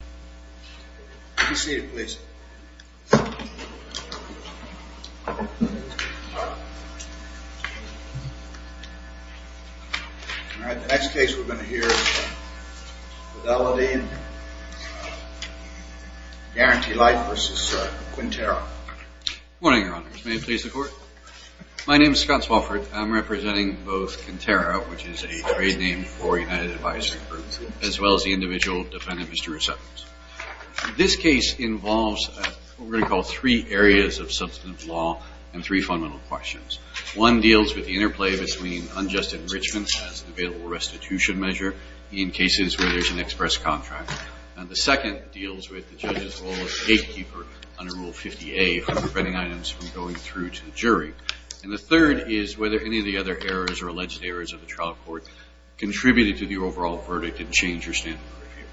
Please be seated, please. All right, the next case we're going to hear is Fidelity and Guaranty Life v. Quintero. Good morning, Your Honors. May it please the Court? My name is Scott Swofford. I'm representing both Quintero, which is a trade name for United Advisory Group, as well as the individual defendant, Mr. Resettles. This case involves what we're going to call three areas of substantive law and three fundamental questions. One deals with the interplay between unjust enrichment as an available restitution measure in cases where there's an express contract. And the second deals with the judge's role as gatekeeper under Rule 50A for preventing items from going through to the jury. And the third is whether any of the other errors or alleged errors of the trial court contributed to the overall verdict and changed your stand on the review.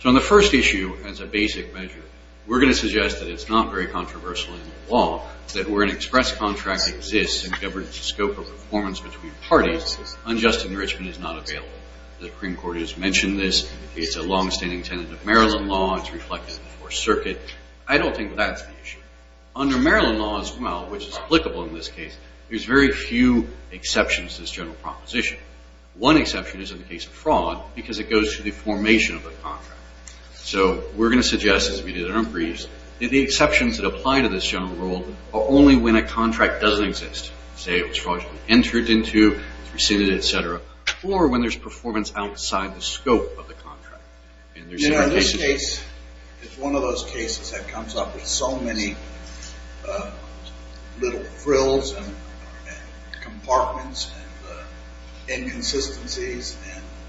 So on the first issue, as a basic measure, we're going to suggest that it's not very controversial in the law, that where an express contract exists and governs the scope of performance between parties, unjust enrichment is not available. The Supreme Court has mentioned this. It's a longstanding tenet of Maryland law. It's reflected in the Fourth Circuit. I don't think that's the issue. Under Maryland law as well, which is applicable in this case, there's very few exceptions to this general proposition. One exception is in the case of fraud, because it goes through the formation of a contract. So we're going to suggest, as we did in our briefs, that the exceptions that apply to this general rule are only when a contract doesn't exist. Say it was fraudulently entered into, rescinded, et cetera, or when there's performance outside the scope of the contract. In this case, it's one of those cases that comes up with so many little frills and compartments and inconsistencies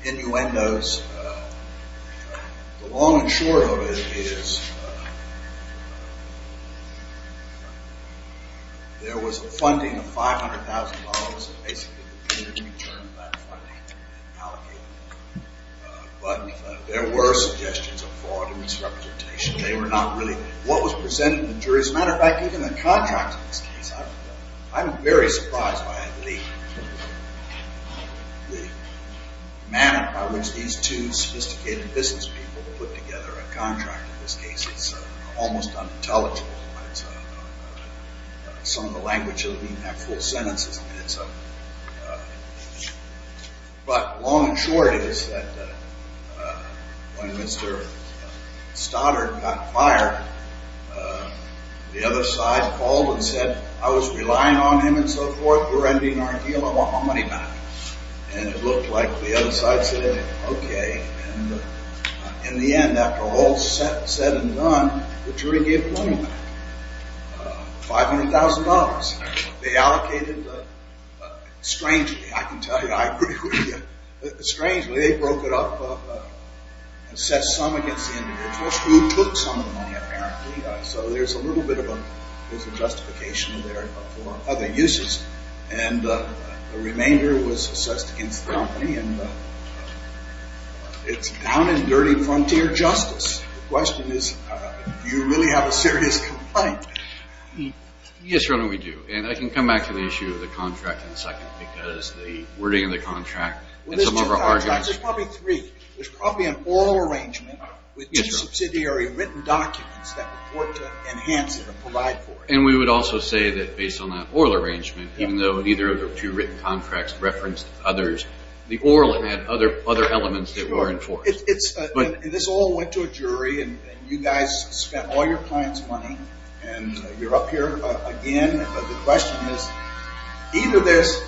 and innuendos. The long and short of it is there was funding of $500,000 that basically appeared to be turned back funding and allocated. But there were suggestions of fraud and misrepresentation. They were not really what was presented to the jury. As a matter of fact, even the contract in this case, I'm very surprised by the manner by which these two sophisticated business people put together a contract. In this case, it's almost unintelligible. Some of the language doesn't even have full sentences in it. But the long and short is that when Mr. Stoddard got fired, the other side called and said, I was relying on him and so forth. We're ending our deal. I want my money back. And it looked like the other side said, OK. And in the end, after all is said and done, the jury gave money back, $500,000. They allocated it. Strangely, I can tell you, strangely, they broke it up and set some against the individuals who took some of the money apparently. So there's a little bit of a justification there for other uses. And the remainder was assessed against the company. And it's down and dirty frontier justice. The question is, do you really have a serious complaint? Yes, Your Honor, we do. And I can come back to the issue of the contract in a second because the wording of the contract and some of our arguments. There's probably three. There's probably an oral arrangement with two subsidiary written documents that report to enhance it and provide for it. And we would also say that based on that oral arrangement, even though either of the two written contracts referenced others, the oral had other elements that were enforced. This all went to a jury. And you guys spent all your clients' money. And you're up here again. The question is, either there's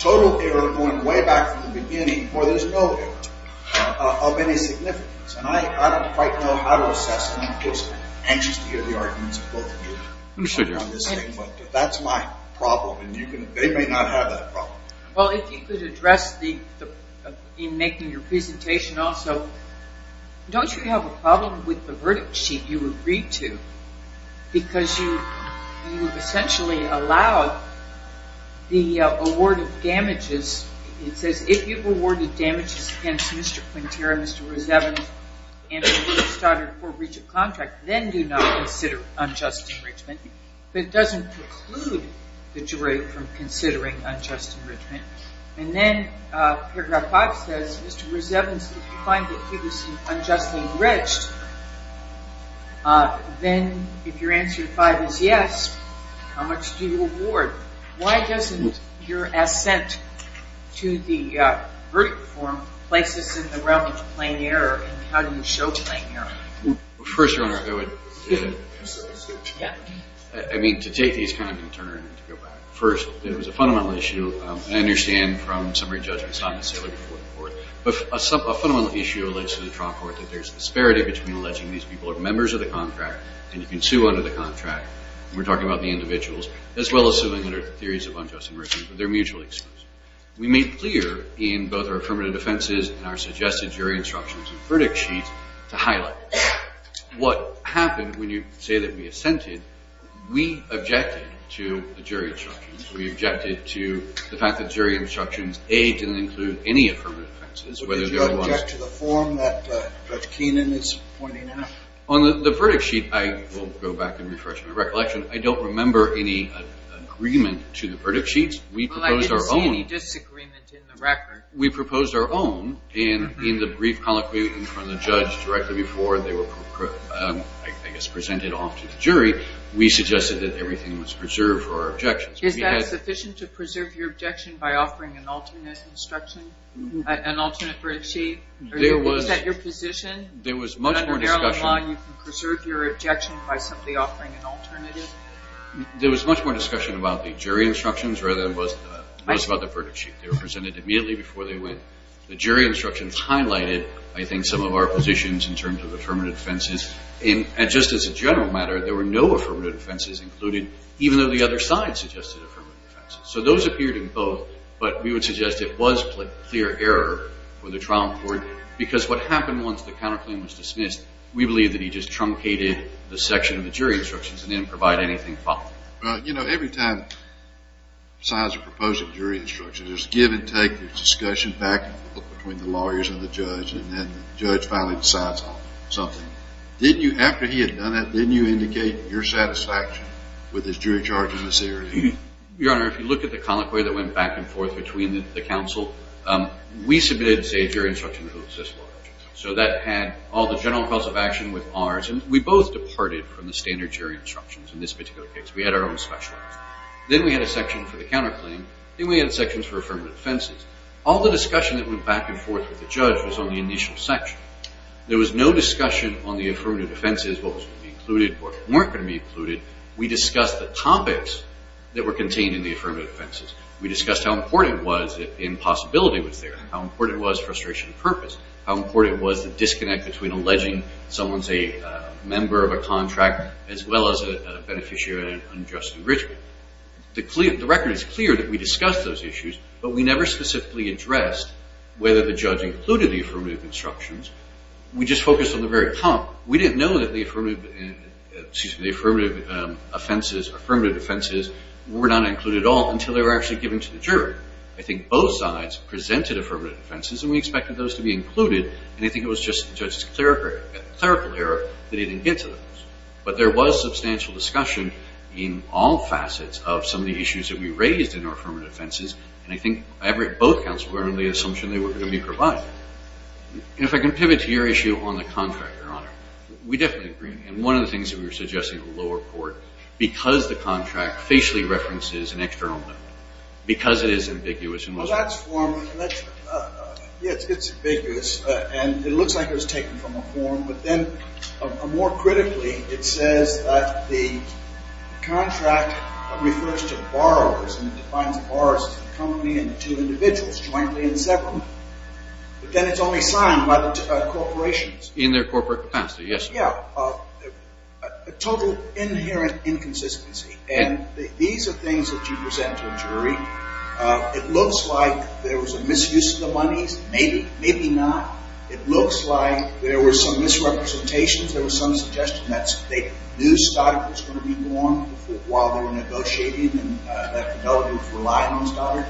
total error going way back from the beginning or there's no error of any significance. And I don't quite know how to assess it. I'm just anxious to hear the arguments of both of you on this thing. But that's my problem. And they may not have that problem. Well, if you could address in making your presentation also, don't you have a problem with the verdict sheet you agreed to? Because you essentially allowed the award of damages. It says, if you've awarded damages against Mr. Quintero, Mr. Rosevin, and Mr. Stoddard for breach of contract, then do not consider unjust enrichment. But it doesn't preclude the jury from considering unjust enrichment. And then paragraph 5 says, Mr. Rosevin, if you find that he was unjustly enriched, then if your answer to 5 is yes, how much do you award? Why doesn't your assent to the verdict form place us in the realm of plain error? And how do you show plain error? First, Your Honor, I would – I mean, to take these kind of concerns and to go back. First, it was a fundamental issue. I understand from summary judgments not necessarily before the court. But a fundamental issue relates to the trial court that there's disparity between alleging these people are members of the contract and you can sue under the contract. And we're talking about the individuals, as well as suing under theories of unjust enrichment. But they're mutually exclusive. We made clear in both our affirmative defenses and our suggested jury instructions and verdict sheets to highlight this. What happened when you say that we assented, we objected to the jury instructions. We objected to the fact that jury instructions, A, didn't include any affirmative offenses, whether they were – But did you object to the form that Judge Keenan is pointing out? On the verdict sheet, I will go back and refresh my recollection. I don't remember any agreement to the verdict sheets. We proposed our own. Well, I didn't see any disagreement in the record. We proposed our own. And in the brief colloquy in front of the judge directly before they were, I guess, presented off to the jury, we suggested that everything was preserved for our objections. Is that sufficient to preserve your objection by offering an alternate instruction, an alternate verdict sheet? Is that your position? There was much more discussion. Under Maryland law, you can preserve your objection by simply offering an alternative? There was much more discussion about the jury instructions rather than it was about the verdict sheet. They were presented immediately before they went. The jury instructions highlighted, I think, some of our positions in terms of affirmative offenses. And just as a general matter, there were no affirmative offenses included, even though the other side suggested affirmative offenses. So those appeared in both, but we would suggest it was clear error for the trial court because what happened once the counterclaim was dismissed, we believe that he just truncated the section of the jury instructions and didn't provide anything following. Well, you know, every time signs are proposed in jury instructions, there's give and take, there's discussion back and forth between the lawyers and the judge, and then the judge finally decides on something. After he had done that, didn't you indicate your satisfaction with his jury charge in this area? Your Honor, if you look at the colloquy that went back and forth between the counsel, we submitted, say, a jury instruction that was this large. So that had all the general cause of action with ours, and we both departed from the standard jury instructions in this particular case. We had our own special. Then we had a section for the counterclaim. Then we had sections for affirmative offenses. All the discussion that went back and forth with the judge was on the initial section. There was no discussion on the affirmative offenses, what was going to be included, what weren't going to be included. We discussed the topics that were contained in the affirmative offenses. We discussed how important it was that the impossibility was there, how important it was frustration of purpose, how important it was the disconnect between alleging someone's a member of a contract as well as a beneficiary of an unjust enrichment. The record is clear that we discussed those issues, but we never specifically addressed whether the judge included the affirmative instructions. We just focused on the very top. We didn't know that the affirmative offenses were not included at all until they were actually given to the jury. I think both sides presented affirmative offenses, and we expected those to be included, and I think it was the judge's clerical error that he didn't get to those. But there was substantial discussion in all facets of some of the issues that we raised in our affirmative offenses, and I think both counsels were under the assumption they were going to be provided. And if I can pivot to your issue on the contract, Your Honor, we definitely agree. And one of the things that we were suggesting to the lower court, because the contract facially references an external note, because it is ambiguous in most ways. Well, that's formal. Yes, it's ambiguous, and it looks like it was taken from a form, but then more critically it says that the contract refers to borrowers and defines borrowers as the company and the two individuals jointly and separately. But then it's only signed by the corporations. In their corporate capacity, yes, Your Honor. Yeah, a total inherent inconsistency. And these are things that you present to a jury. It looks like there was a misuse of the monies. Maybe, maybe not. It looks like there were some misrepresentations. There was some suggestion that they knew Stoddard was going to be born while they were negotiating and that the delegates relied on Stoddard.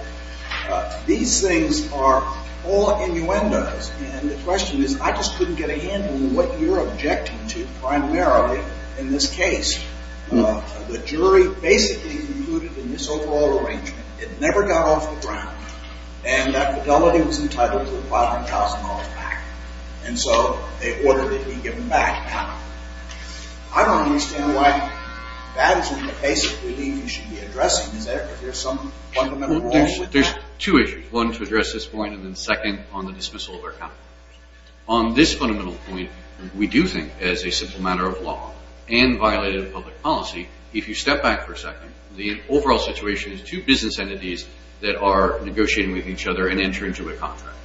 These things are all innuendos, and the question is I just couldn't get a handle on what you're objecting to primarily in this case. The jury basically concluded in this overall arrangement it never got off the ground, and that fidelity was entitled to $500,000 back. And so they ordered it to be given back. I don't understand why that is one of the basic beliefs you should be addressing. Is there some fundamental wrong with that? There's two issues. One, to address this point, and then second, on the dismissal of our counterparts. On this fundamental point, we do think as a simple matter of law and violated of public policy, if you step back for a second, the overall situation is two business entities that are negotiating with each other and enter into a contract.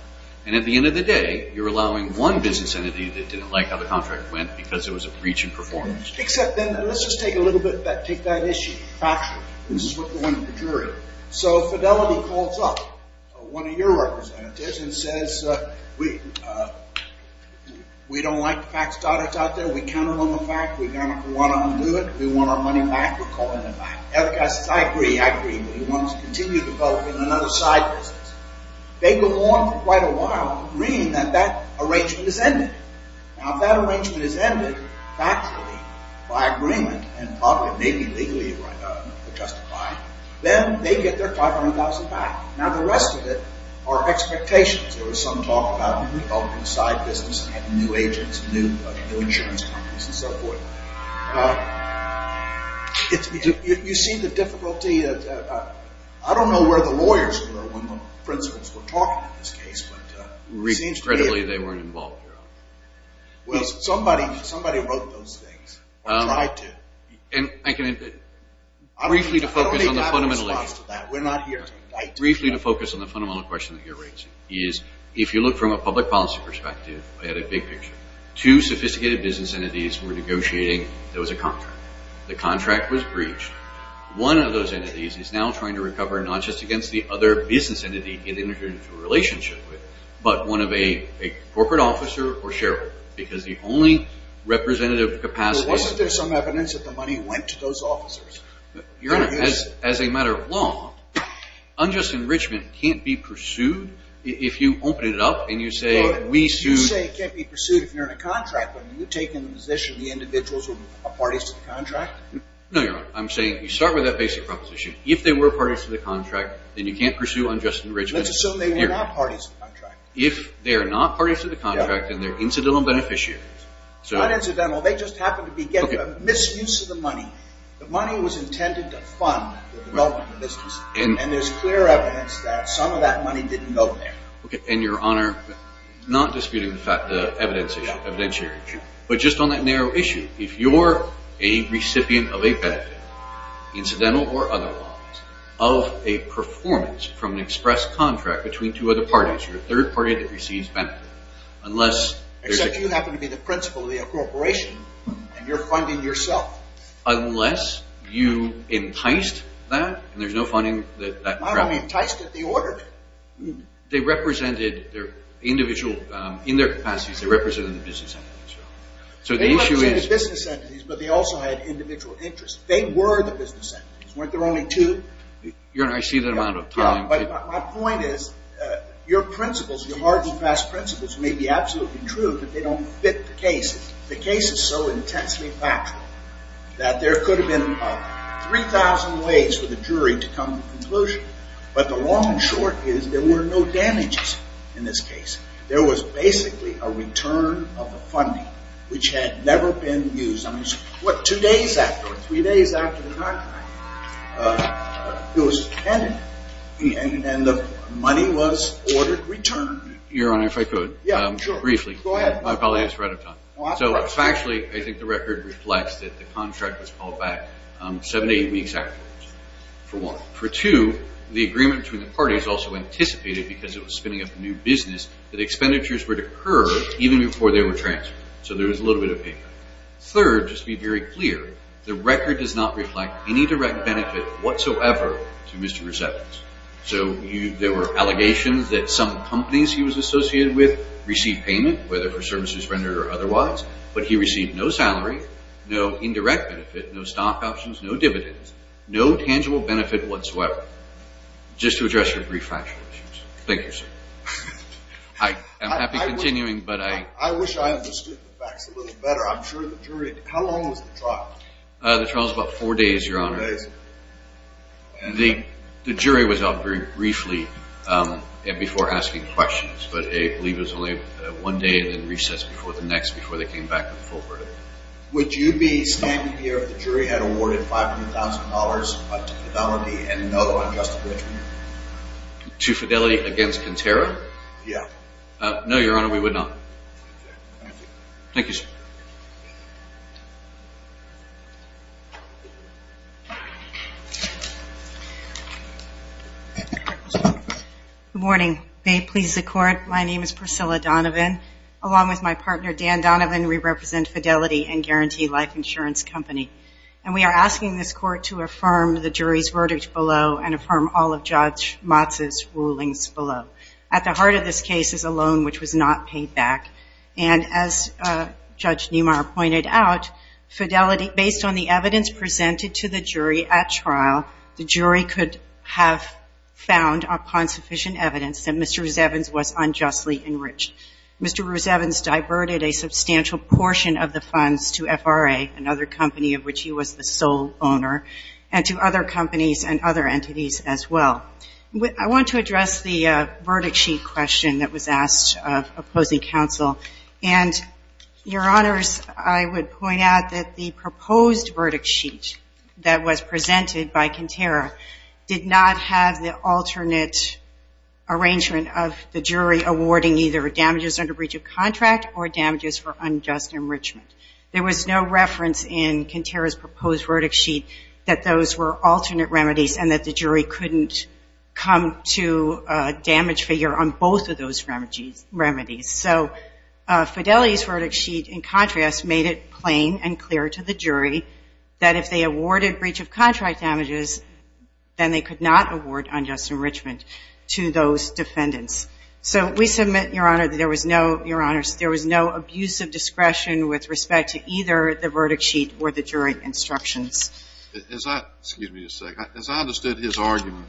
And at the end of the day, you're allowing one business entity that didn't like how the contract went because it was a breach in performance. Except then, let's just take a little bit, take that issue factually. This is what we want in the jury. So fidelity calls up one of your representatives and says, we don't like the fact that it's out there. We count it on the fact. We want to undo it. We want our money back. We're calling it back. The other guy says, I agree. I agree. But he wants to continue the vote in another side business. They go on for quite a while agreeing that that arrangement is ended. Now, if that arrangement is ended factually by agreement and probably maybe legally justified, then they get their $500,000 back. Now, the rest of it are expectations. There was some talk about reopening side business and having new agents, new insurance companies, and so forth. You see the difficulty. I don't know where the lawyers were when the principals were talking in this case, but it seems to me. Incredibly, they weren't involved, Your Honor. Well, somebody wrote those things or tried to. Briefly to focus on the fundamental issue. I don't even have a response to that. We're not here to fight. Briefly to focus on the fundamental question that you're raising is if you look from a public policy perspective, I had a big picture. Two sophisticated business entities were negotiating. There was a contract. The contract was breached. One of those entities is now trying to recover not just against the other business entity it entered into a relationship with, but one of a corporate officer or shareholder because the only representative capacity. Wasn't there some evidence that the money went to those officers? Your Honor, as a matter of law, unjust enrichment can't be pursued if you open it up and you say we sued. You say it can't be pursued if you're in a contract, but are you taking the position the individuals are parties to the contract? No, Your Honor. I'm saying you start with that basic proposition. If they were parties to the contract, then you can't pursue unjust enrichment. Let's assume they were not parties to the contract. If they are not parties to the contract and they're incidental beneficiaries. Not incidental. They just happened to be getting a misuse of the money. The money was intended to fund the development of the business. And there's clear evidence that some of that money didn't go there. And, Your Honor, not disputing the fact, the evidence, evidentiary issue, but just on that narrow issue, if you're a recipient of a benefit, incidental or otherwise, of a performance from an express contract between two other parties, you're a third party that receives benefit. Except you happen to be the principal of the corporation, and you're funding yourself. Unless you enticed that, and there's no funding. My money enticed it, the order did. They represented, in their capacities, they represented the business entities. They represented the business entities, but they also had individual interests. They were the business entities. Weren't there only two? Your Honor, I see the amount of time. But my point is, your principles, your hard and fast principles may be absolutely true, but they don't fit the case. The case is so intensely factual that there could have been 3,000 ways for the jury to come to a conclusion. But the long and short is, there were no damages in this case. There was basically a return of the funding, which had never been used. Two days afterwards, three days after the contract, it was handed, and the money was ordered returned. Your Honor, if I could, briefly. Go ahead. I probably have a shred of time. So factually, I think the record reflects that the contract was called back seven to eight weeks afterwards. For what? For two, the agreement between the parties also anticipated, because it was spinning up a new business, that expenditures would occur even before they were transferred. So there was a little bit of payback. Third, just to be very clear, the record does not reflect any direct benefit whatsoever to Mr. Resettles. So there were allegations that some companies he was associated with received payment, whether for services rendered or otherwise, but he received no salary, no indirect benefit, no stock options, no dividends, no tangible benefit whatsoever. Just to address your brief factual issues. Thank you, sir. I'm happy continuing, but I— I wish I understood the facts a little better. I'm sure the jury—how long was the trial? The trial was about four days, Your Honor. Four days. The jury was up briefly before asking questions, but I believe it was only one day and then recessed before the next, before they came back with the full verdict. Would you be standing here if the jury had awarded $500,000 to Fidelity and no on Justin Richmond? To Fidelity against Conterra? Yeah. No, Your Honor, we would not. Thank you. Thank you, sir. Good morning. May it please the Court, my name is Priscilla Donovan. Along with my partner, Dan Donovan, we represent Fidelity and Guarantee Life Insurance Company. And we are asking this Court to affirm the jury's verdict below and affirm all of Judge Motz's rulings below. At the heart of this case is a loan which was not paid back. And as Judge Niemeyer pointed out, Fidelity—based on the evidence presented to the jury at trial, the jury could have found, upon sufficient evidence, that Mr. Rusevans was unjustly enriched. Mr. Rusevans diverted a substantial portion of the funds to FRA, another company of which he was the sole owner, and to other companies and other entities as well. I want to address the verdict sheet question that was asked of opposing counsel. And, Your Honors, I would point out that the proposed verdict sheet that was presented by Conterra did not have the alternate arrangement of the jury awarding either damages under breach of contract or damages for unjust enrichment. There was no reference in Conterra's proposed verdict sheet that those were alternate remedies and that the jury couldn't come to a damage figure on both of those remedies. So Fidelity's verdict sheet, in contrast, made it plain and clear to the jury that if they awarded breach of contract damages, then they could not award unjust enrichment to those defendants. So we submit, Your Honor, that there was no—Your Honors, there was no abusive discretion with respect to either the verdict sheet or the jury instructions. As I—excuse me a second. As I understood his argument,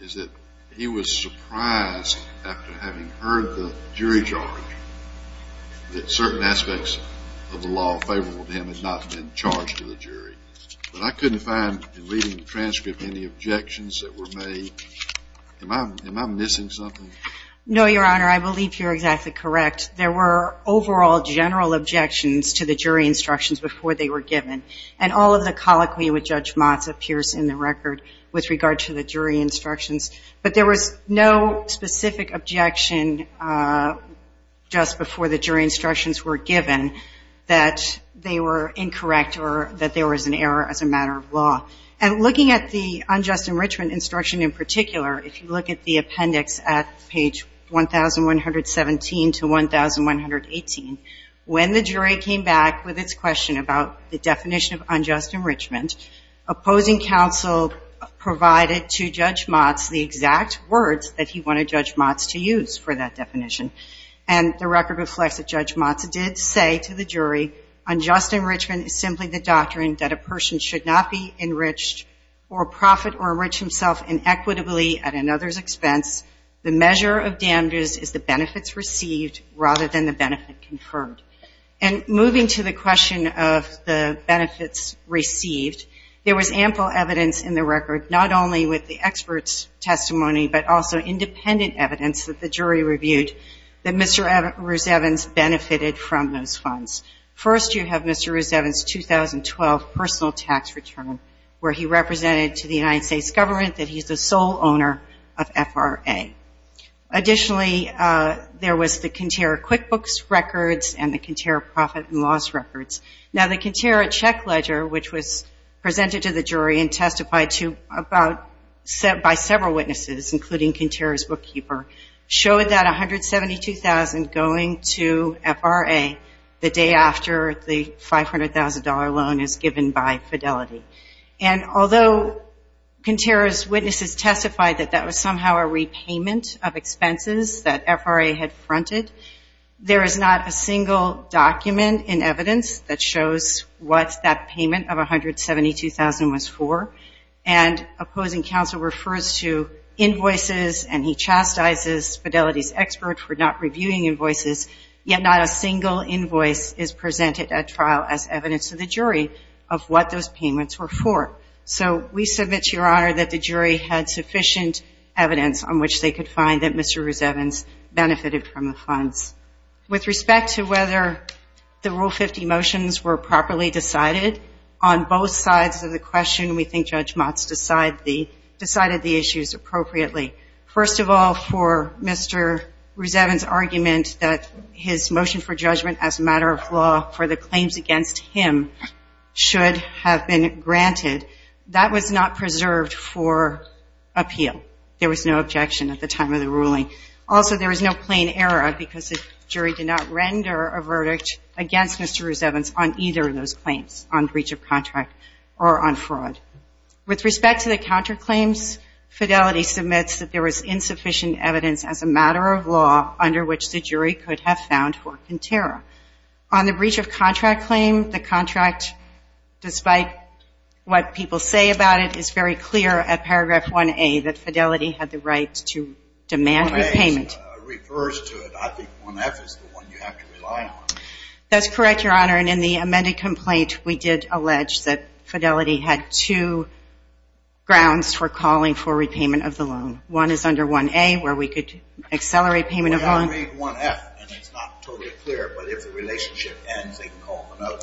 is that he was surprised after having heard the jury charge that certain aspects of the law favorable to him had not been charged to the jury. But I couldn't find, in reading the transcript, any objections that were made. Am I missing something? No, Your Honor. I believe you're exactly correct. There were overall general objections to the jury instructions before they were given. And all of the colloquy with Judge Motz appears in the record with regard to the jury instructions. But there was no specific objection just before the jury instructions were given that they were incorrect or that there was an error as a matter of law. And looking at the unjust enrichment instruction in particular, if you look at the appendix at page 1,117 to 1,118, when the jury came back with its question about the definition of unjust enrichment, opposing counsel provided to Judge Motz the exact words that he wanted Judge Motz to use for that definition. And the record reflects that Judge Motz did say to the jury, unjust enrichment is simply the doctrine that a person should not be enriched or profit or enrich himself inequitably at another's expense. The measure of damages is the benefits received rather than the benefit confirmed. And moving to the question of the benefits received, there was ample evidence in the record not only with the expert's testimony but also independent evidence that the jury reviewed that Mr. Rusevans benefited from those funds. First, you have Mr. Rusevans' 2012 personal tax return where he represented to the United States government that he's the sole owner of FRA. Additionally, there was the Conterra QuickBooks records and the Conterra Profit and Loss records. Now, the Conterra check ledger, which was presented to the jury and testified to by several witnesses, including Conterra's bookkeeper, showed that $172,000 going to FRA the day after the $500,000 loan is given by Fidelity. And although Conterra's witnesses testified that that was somehow a repayment of expenses that FRA had fronted, there is not a single document in evidence that shows what that payment of $172,000 was for. And opposing counsel refers to invoices and he chastises Fidelity's expert for not reviewing invoices, yet not a single invoice is presented at trial as evidence to the jury of what those payments were for. So we submit to Your Honor that the jury had sufficient evidence on which they could find that Mr. Rusevans benefited from the funds. With respect to whether the Rule 50 motions were properly decided, on both sides of the question we think Judge Motz decided the issues appropriately. First of all, for Mr. Rusevans' argument that his motion for judgment as a matter of law for the claims against him should have been granted, that was not preserved for appeal. There was no objection at the time of the ruling. Also, there was no plain error because the jury did not render a verdict against Mr. Rusevans on either of those claims, on breach of contract or on fraud. With respect to the counterclaims, Fidelity submits that there was insufficient evidence as a matter of law under which the jury could have found Horkin Terra. On the breach of contract claim, the contract, despite what people say about it, is very clear at paragraph 1A that Fidelity had the right to demand repayment. 1A refers to it. I think 1F is the one you have to rely on. That's correct, Your Honor. And in the amended complaint, we did allege that Fidelity had two grounds for calling for repayment of the loan. One is under 1A where we could accelerate payment of loan. Well, you don't need 1F, and it's not totally clear, but if the relationship ends, they can call for another.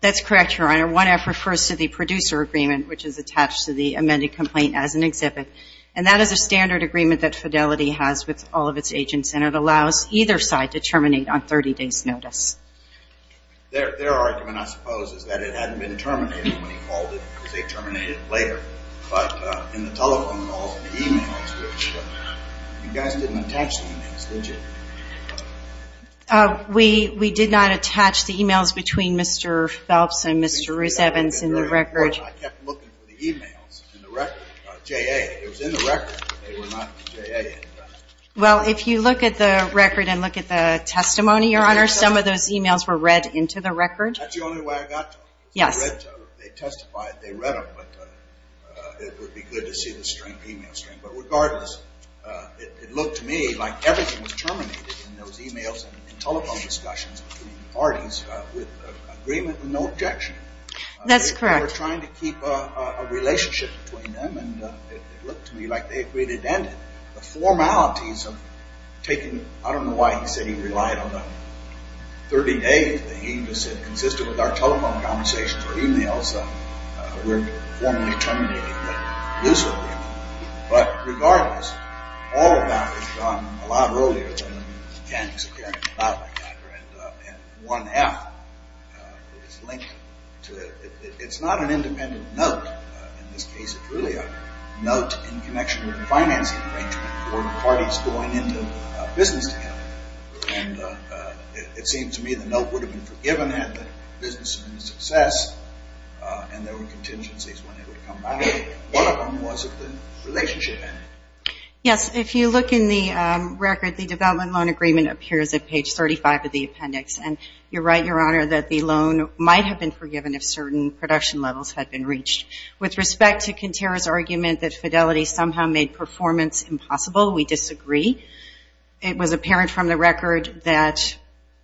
That's correct, Your Honor. 1F refers to the producer agreement, which is attached to the amended complaint as an exhibit. And that is a standard agreement that Fidelity has with all of its agents, and it allows either side to terminate on 30 days' notice. Their argument, I suppose, is that it hadn't been terminated when he called it because they terminated it later. But in the telephone calls and the e-mails, you guys didn't attach the e-mails, did you? We did not attach the e-mails between Mr. Phelps and Mr. Rusevitz in the record. I kept looking for the e-mails in the record. It was in the record, but they were not in the record. Well, if you look at the record and look at the testimony, Your Honor, some of those e-mails were read into the record. That's the only way I got to them. They testified, they read them, but it would be good to see the e-mail stream. But regardless, it looked to me like everything was terminated in those e-mails and telephone discussions between the parties with agreement and no objection. That's correct. They were trying to keep a relationship between them, and it looked to me like they agreed it ended. The formalities of taking, I don't know why he said he relied on the 30-day thing, because it consisted with our telephone conversations or e-mails. We're formally terminating them exclusively. But regardless, all of that was done a lot earlier than the mechanics of character. It's not an independent note. In this case, it's really a note in connection with a financing arrangement for parties going into business together. And it seemed to me the note would have been forgiven had the business been a success and there were contingencies when it would come back. One of them was if the relationship ended. Yes, if you look in the record, the development loan agreement appears at page 35 of the appendix. And you're right, Your Honor, that the loan might have been forgiven if certain production levels had been reached. With respect to Kintera's argument that Fidelity somehow made performance impossible, we disagree. It was apparent from the record that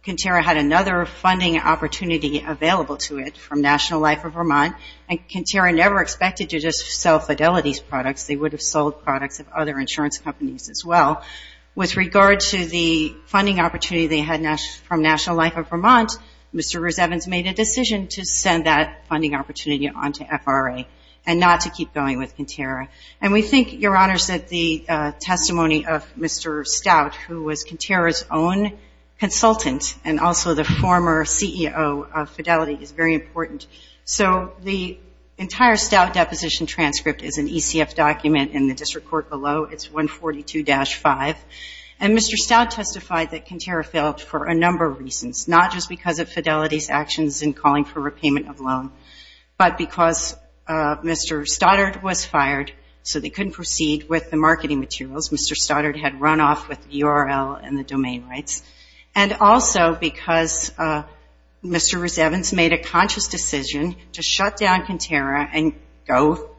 Kintera had another funding opportunity available to it from National Life of Vermont, and Kintera never expected to just sell Fidelity's products. They would have sold products of other insurance companies as well. With regard to the funding opportunity they had from National Life of Vermont, Mr. Rose-Evans made a decision to send that funding opportunity on to FRA and not to keep going with Kintera. And we think, Your Honor, that the testimony of Mr. Stout, who was Kintera's own consultant and also the former CEO of Fidelity, is very important. So the entire Stout deposition transcript is an ECF document in the district court below. It's 142-5, and Mr. Stout testified that Kintera failed for a number of reasons, not just because of Fidelity's actions in calling for repayment of loan, but because Mr. Stoddard was fired so they couldn't proceed with the marketing materials. Mr. Stoddard had run off with the URL and the domain rights, and also because Mr. Rose-Evans made a conscious decision to shut down Kintera and go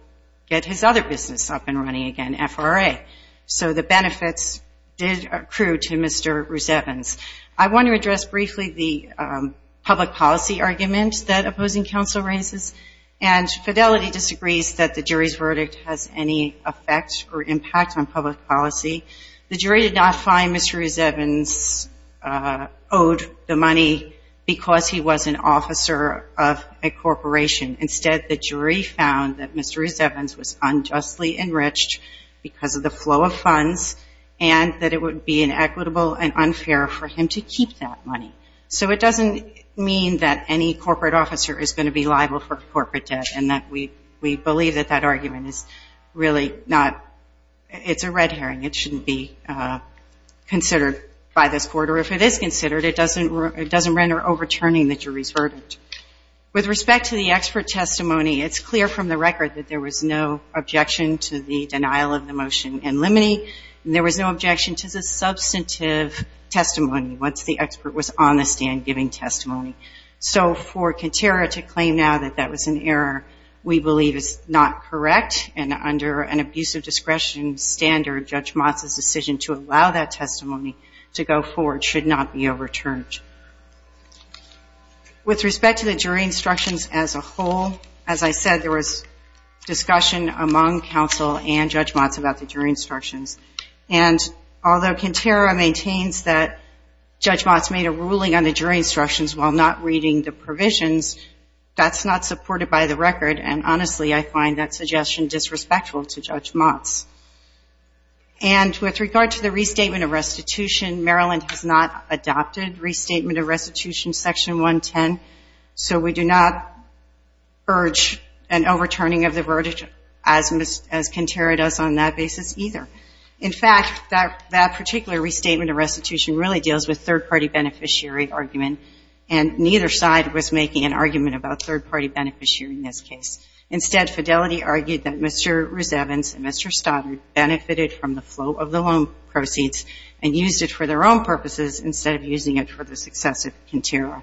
get his other business up and running again, FRA. So the benefits did accrue to Mr. Rose-Evans. I want to address briefly the public policy argument that opposing counsel raises, and Fidelity disagrees that the jury's verdict has any effect or impact on public policy. The jury did not find Mr. Rose-Evans owed the money because he was an officer of a corporation. Instead, the jury found that Mr. Rose-Evans was unjustly enriched because of the flow of funds and that it would be inequitable and unfair for him to keep that money. So it doesn't mean that any corporate officer is going to be liable for corporate debt, and that we believe that that argument is really not ñ it's a red herring. It shouldn't be considered by this court, or if it is considered, it doesn't render overturning the jury's verdict. With respect to the expert testimony, it's clear from the record that there was no objection to the denial of the motion in limine, and there was no objection to the substantive testimony once the expert was on the stand giving testimony. So for Kintera to claim now that that was an error we believe is not correct, and under an abuse of discretion standard, Judge Motz's decision to allow that testimony to go forward should not be overturned. With respect to the jury instructions as a whole, as I said there was discussion among counsel and Judge Motz about the jury instructions, and although Kintera maintains that Judge Motz made a ruling on the jury instructions while not reading the provisions, that's not supported by the record, and honestly I find that suggestion disrespectful to Judge Motz. And with regard to the restatement of restitution, Maryland has not adopted restatement of restitution section 110, so we do not urge an overturning of the verdict as Kintera does on that basis either. In fact, that particular restatement of restitution really deals with third-party beneficiary argument, and neither side was making an argument about third-party beneficiary in this case. Instead, Fidelity argued that Mr. Rusevans and Mr. Stoddard benefited from the flow of the loan proceeds and used it for their own purposes instead of using it for the success of Kintera.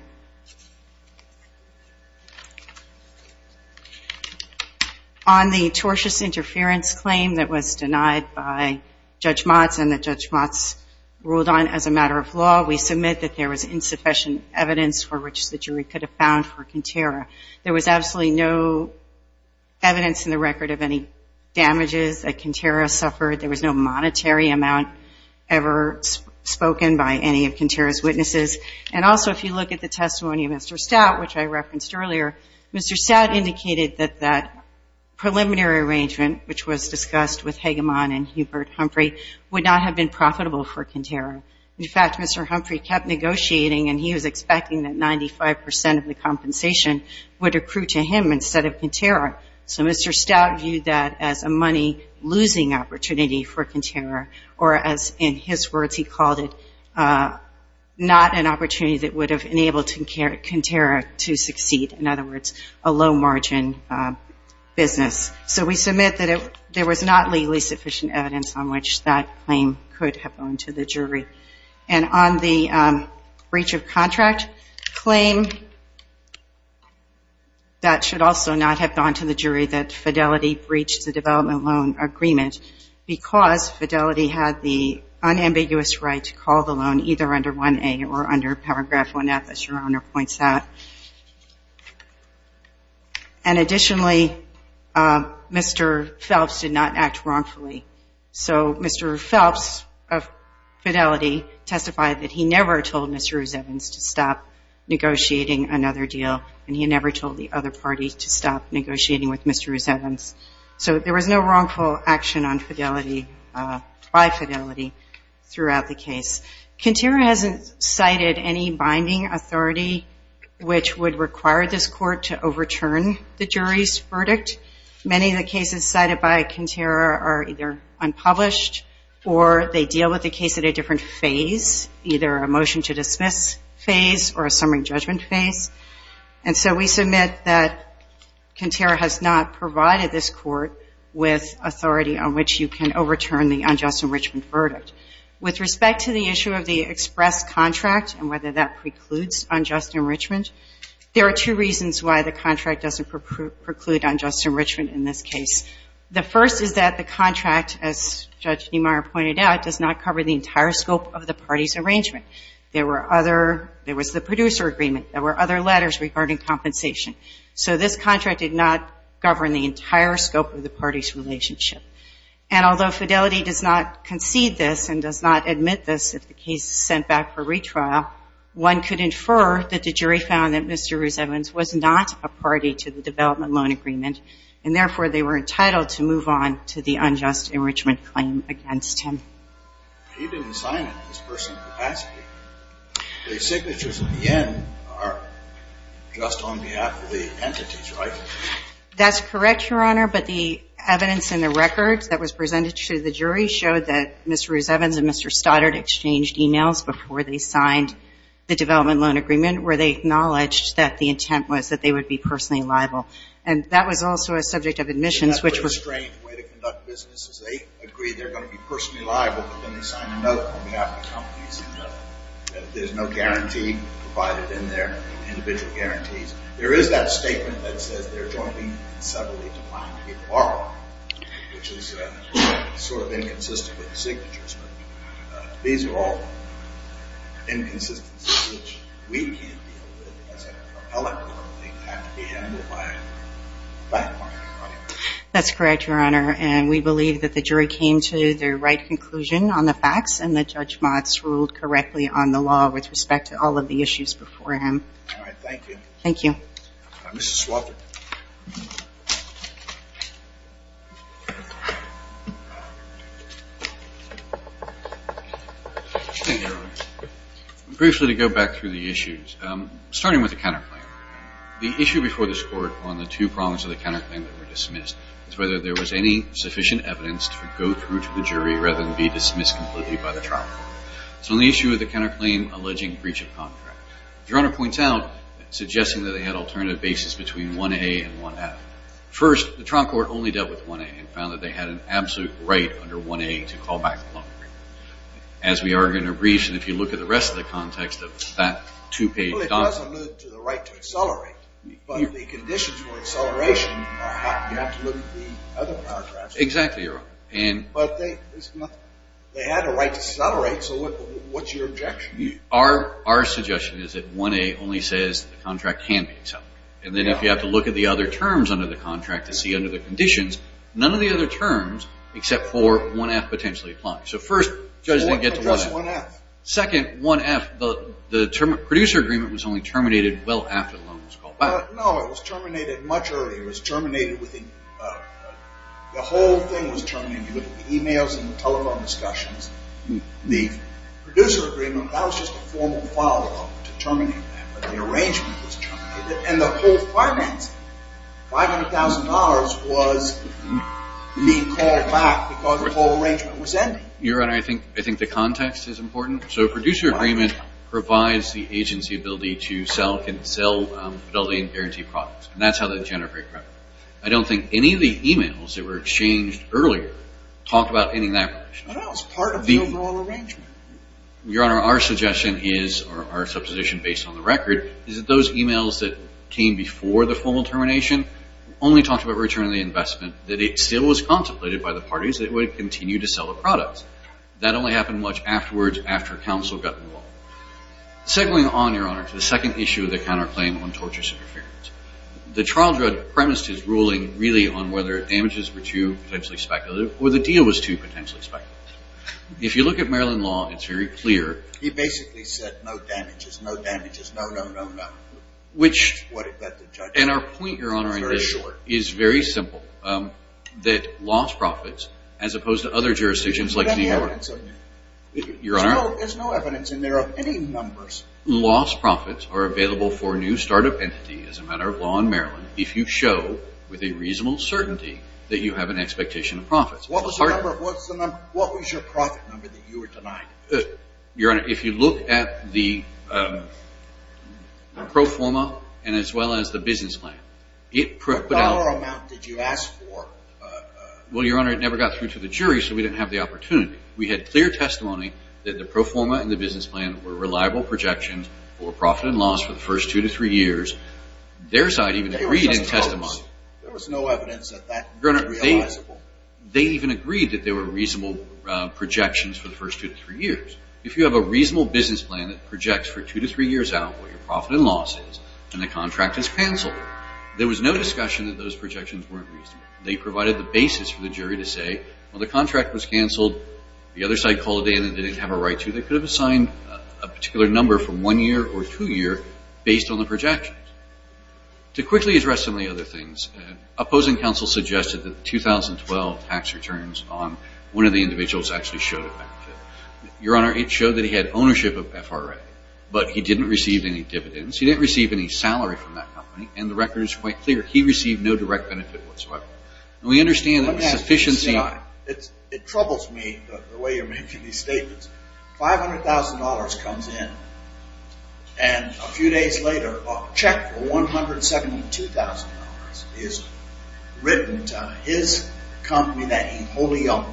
On the tortious interference claim that was denied by Judge Motz and that Judge Motz ruled on as a matter of law, we submit that there was insufficient evidence for which the jury could have found for Kintera. There was absolutely no evidence in the record of any damages that Kintera suffered. There was no monetary amount ever spoken by any of Kintera's witnesses. And also, if you look at the testimony of Mr. Stout, which I referenced earlier, Mr. Stout indicated that that preliminary arrangement, which was discussed with Hegemon and Hubert Humphrey, would not have been profitable for Kintera. In fact, Mr. Humphrey kept negotiating, and he was expecting that 95 percent of the compensation would accrue to him instead of Kintera. So Mr. Stout viewed that as a money-losing opportunity for Kintera, or as in his words he called it, not an opportunity that would have enabled Kintera to succeed. In other words, a low-margin business. So we submit that there was not legally sufficient evidence on which that claim could have gone to the jury. And on the breach of contract claim, that should also not have gone to the jury that Fidelity breached the development loan agreement, because Fidelity had the unambiguous right to call the loan either under 1A or under paragraph 1F, as Your Honor points out. And additionally, Mr. Phelps did not act wrongfully. So Mr. Phelps of Fidelity testified that he never told Mr. Evans to stop negotiating another deal, and he never told the other party to stop negotiating with Mr. Evans. So there was no wrongful action on Fidelity, by Fidelity, throughout the case. Kintera hasn't cited any binding authority which would require this court to overturn the jury's verdict. Many of the cases cited by Kintera are either unpublished, or they deal with the case at a different phase, either a motion to dismiss phase or a summary judgment phase. And so we submit that Kintera has not provided this court with authority on which you can overturn the unjust enrichment verdict. With respect to the issue of the express contract and whether that precludes unjust enrichment, there are two reasons why the contract doesn't preclude unjust enrichment in this case. The first is that the contract, as Judge Niemeyer pointed out, does not cover the entire scope of the party's arrangement. There were other – there was the producer agreement. There were other letters regarding compensation. So this contract did not govern the entire scope of the party's relationship. And although Fidelity does not concede this and does not admit this if the case is sent back for retrial, one could infer that the jury found that Mr. Rusevans was not a party to the development loan agreement, and therefore they were entitled to move on to the unjust enrichment claim against him. He didn't sign it in his personal capacity. The signatures at the end are just on behalf of the entities, right? That's correct, Your Honor, but the evidence in the record that was presented to the jury showed that Mr. Rusevans and Mr. Stoddard exchanged e-mails before they signed the development loan agreement where they acknowledged that the intent was that they would be personally liable. And that was also a subject of admissions, which was – Isn't that a strange way to conduct business is they agree they're going to be personally liable, but then they sign a note on behalf of the companies and there's no guarantee provided in there, individual guarantees. There is that statement that says they're jointly and separately defined to be a borrower, which is sort of inconsistent with the signatures, but these are all inconsistencies which we can't deal with as an appellate court. They have to be handled by a partner. That's correct, Your Honor, and we believe that the jury came to the right conclusion on the facts and that Judge Motz ruled correctly on the law with respect to all of the issues before him. All right, thank you. Thank you. Mrs. Swafford. Thank you, Your Honor. Briefly to go back through the issues, starting with the counterclaim, the issue before this Court on the two problems of the counterclaim that were dismissed was whether there was any sufficient evidence to go through to the jury rather than be dismissed completely by the trial. So on the issue of the counterclaim alleging breach of contract, Your Honor points out suggesting that they had alternative basis between 1A and 1F. First, the trial court only dealt with 1A and found that they had an absolute right under 1A to call back the loan agreement. As we are going to reach, and if you look at the rest of the context of that two-page document. Well, it does allude to the right to accelerate, but the conditions for acceleration are absolutely other contracts. Exactly, Your Honor. But they had a right to accelerate, so what's your objection? Our suggestion is that 1A only says the contract can be accelerated. And then if you have to look at the other terms under the contract to see under the conditions, none of the other terms except for 1F potentially apply. So first, judges didn't get to 1F. So what's 1F? Second, 1F, the producer agreement was only terminated well after the loan was called back. No, it was terminated much earlier. It was terminated within, the whole thing was terminated. You look at the emails and telephone discussions. The producer agreement, that was just a formal follow-up to terminate that, but the arrangement was terminated. And the whole financing, $500,000, was being called back because the whole arrangement was ending. Your Honor, I think the context is important. So producer agreement provides the agency ability to sell, can sell Fidelity Guaranteed products, and that's how they generate revenue. I don't think any of the emails that were exchanged earlier talked about ending that condition. Well, it's part of the overall arrangement. Your Honor, our suggestion is, or our supposition based on the record, is that those emails that came before the formal termination only talked about returning the investment, that it still was contemplated by the parties that would continue to sell the products. That only happened much afterwards, after counsel got involved. Segueing on, Your Honor, to the second issue of the counterclaim on torture interference. The trial judge premised his ruling really on whether damages were too potentially speculative or the deal was too potentially speculative. If you look at Maryland law, it's very clear. He basically said no damages, no damages, no, no, no, no. Which, and our point, Your Honor, is very simple. That lost profits, as opposed to other jurisdictions like New York. There's no evidence in there of any numbers. Lost profits are available for a new startup entity as a matter of law in Maryland if you show with a reasonable certainty that you have an expectation of profits. What was your profit number that you were denied? Your Honor, if you look at the pro forma and as well as the business plan. What dollar amount did you ask for? Well, Your Honor, it never got through to the jury, so we didn't have the opportunity. We had clear testimony that the pro forma and the business plan were reliable projections for profit and loss for the first two to three years. Their side even agreed in testimony. There was no evidence that that could be realizable. Your Honor, they even agreed that they were reasonable projections for the first two to three years. If you have a reasonable business plan that projects for two to three years out what your profit and loss is and the contract is canceled, there was no discussion that those projections weren't reasonable. They provided the basis for the jury to say, well, the contract was canceled. The other side called in and didn't have a right to. They could have assigned a particular number from one year or two years based on the projections. To quickly address some of the other things, opposing counsel suggested that the 2012 tax returns on one of the individuals actually showed a benefit. Your Honor, it showed that he had ownership of FRA, but he didn't receive any dividends. He didn't receive any salary from that company, and the record is quite clear. He received no direct benefit whatsoever. We understand that sufficiency. It troubles me the way you're making these statements. $500,000 comes in, and a few days later, a check for $172,000 is written to his company that he wholly owned,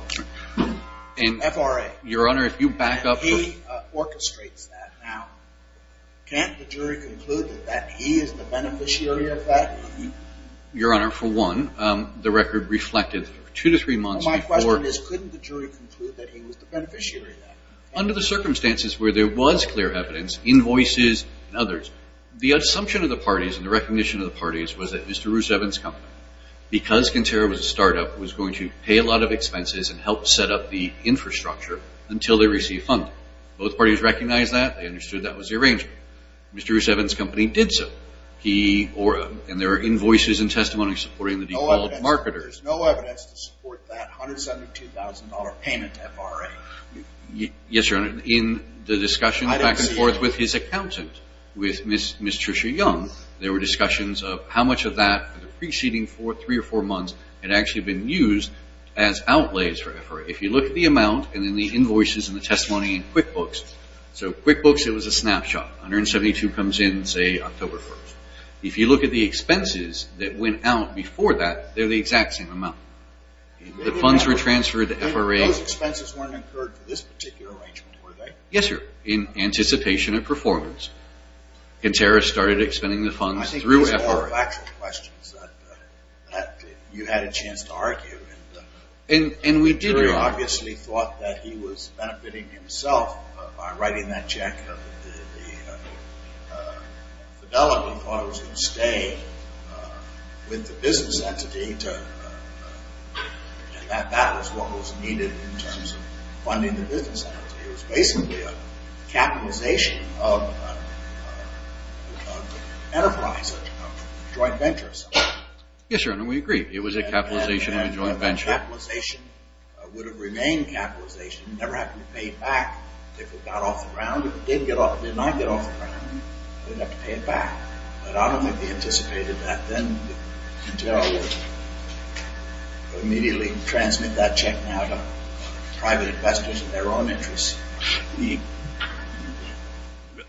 FRA. Your Honor, if you back up. He orchestrates that. Now, can't the jury conclude that he is the beneficiary of that? Your Honor, for one, the record reflected two to three months before. My question is, couldn't the jury conclude that he was the beneficiary of that? Under the circumstances where there was clear evidence, invoices, and others, the assumption of the parties and the recognition of the parties was that Mr. Roosevelt's company, because Cantera was a startup, was going to pay a lot of expenses and help set up the infrastructure until they received funding. Both parties recognized that. They understood that was the arrangement. Mr. Roosevelt's company did so, and there are invoices and testimonies supporting the default marketers. There is no evidence to support that $172,000 payment to FRA. Yes, Your Honor. In the discussion back and forth with his accountant, with Ms. Tricia Young, there were discussions of how much of that for the preceding three or four months had actually been used as outlays for FRA. If you look at the amount and then the invoices and the testimony in QuickBooks, so QuickBooks, it was a snapshot. $172,000 comes in, say, October 1st. If you look at the expenses that went out before that, they're the exact same amount. The funds were transferred to FRA. Those expenses weren't incurred for this particular arrangement, were they? Yes, Your Honor, in anticipation of performance. Cantera started expending the funds through FRA. I think these are all factual questions that you had a chance to argue. And we did, Your Honor. Cantera obviously thought that he was benefiting himself by writing that check. Fidelio thought it was going to stay with the business entity, and that was what was needed in terms of funding the business entity. It was basically a capitalization of enterprise, a joint venture or something. Yes, Your Honor, we agree. It was a capitalization of a joint venture. Capitalization would have remained capitalization. It never happened to pay it back. If it got off the ground, if it did not get off the ground, they'd have to pay it back. But I don't think they anticipated that then. Cantera would immediately transmit that check now to private investors in their own interest.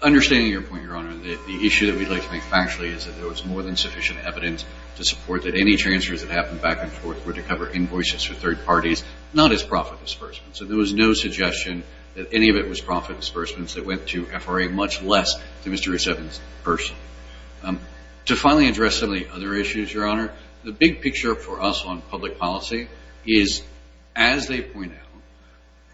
Understanding your point, Your Honor, the issue that we'd like to make factually is that there was more than sufficient evidence to support that any transfers that happened back and forth were to cover invoices for third parties, not as profit as first. So there was no suggestion that any of it was profit as first, and so it went to FRA, much less to Mr. Resetman's person. To finally address some of the other issues, Your Honor, the big picture for us on public policy is, as they point out,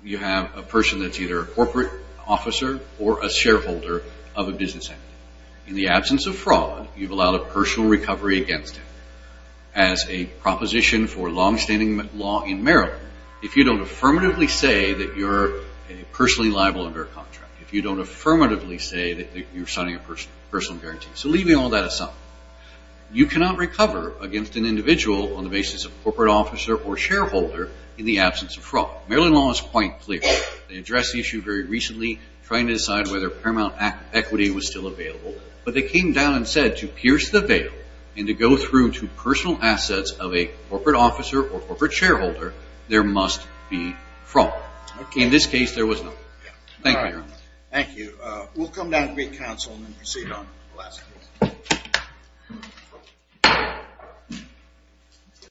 you have a person that's either a corporate officer or a shareholder of a business entity. In the absence of fraud, you've allowed a personal recovery against him. As a proposition for longstanding law in Maryland, if you don't affirmatively say that you're personally liable under a contract, if you don't affirmatively say that you're signing a personal guarantee, so leaving all that aside, you cannot recover against an individual on the basis of corporate officer or shareholder in the absence of fraud. Maryland law is quite clear. They addressed the issue very recently, trying to decide whether paramount equity was still available, but they came down and said to pierce the veil and to go through to personal assets of a corporate officer or corporate shareholder, there must be fraud. In this case, there was none. Thank you, Your Honor. Thank you. We'll come down to meet counsel and then proceed on the last case.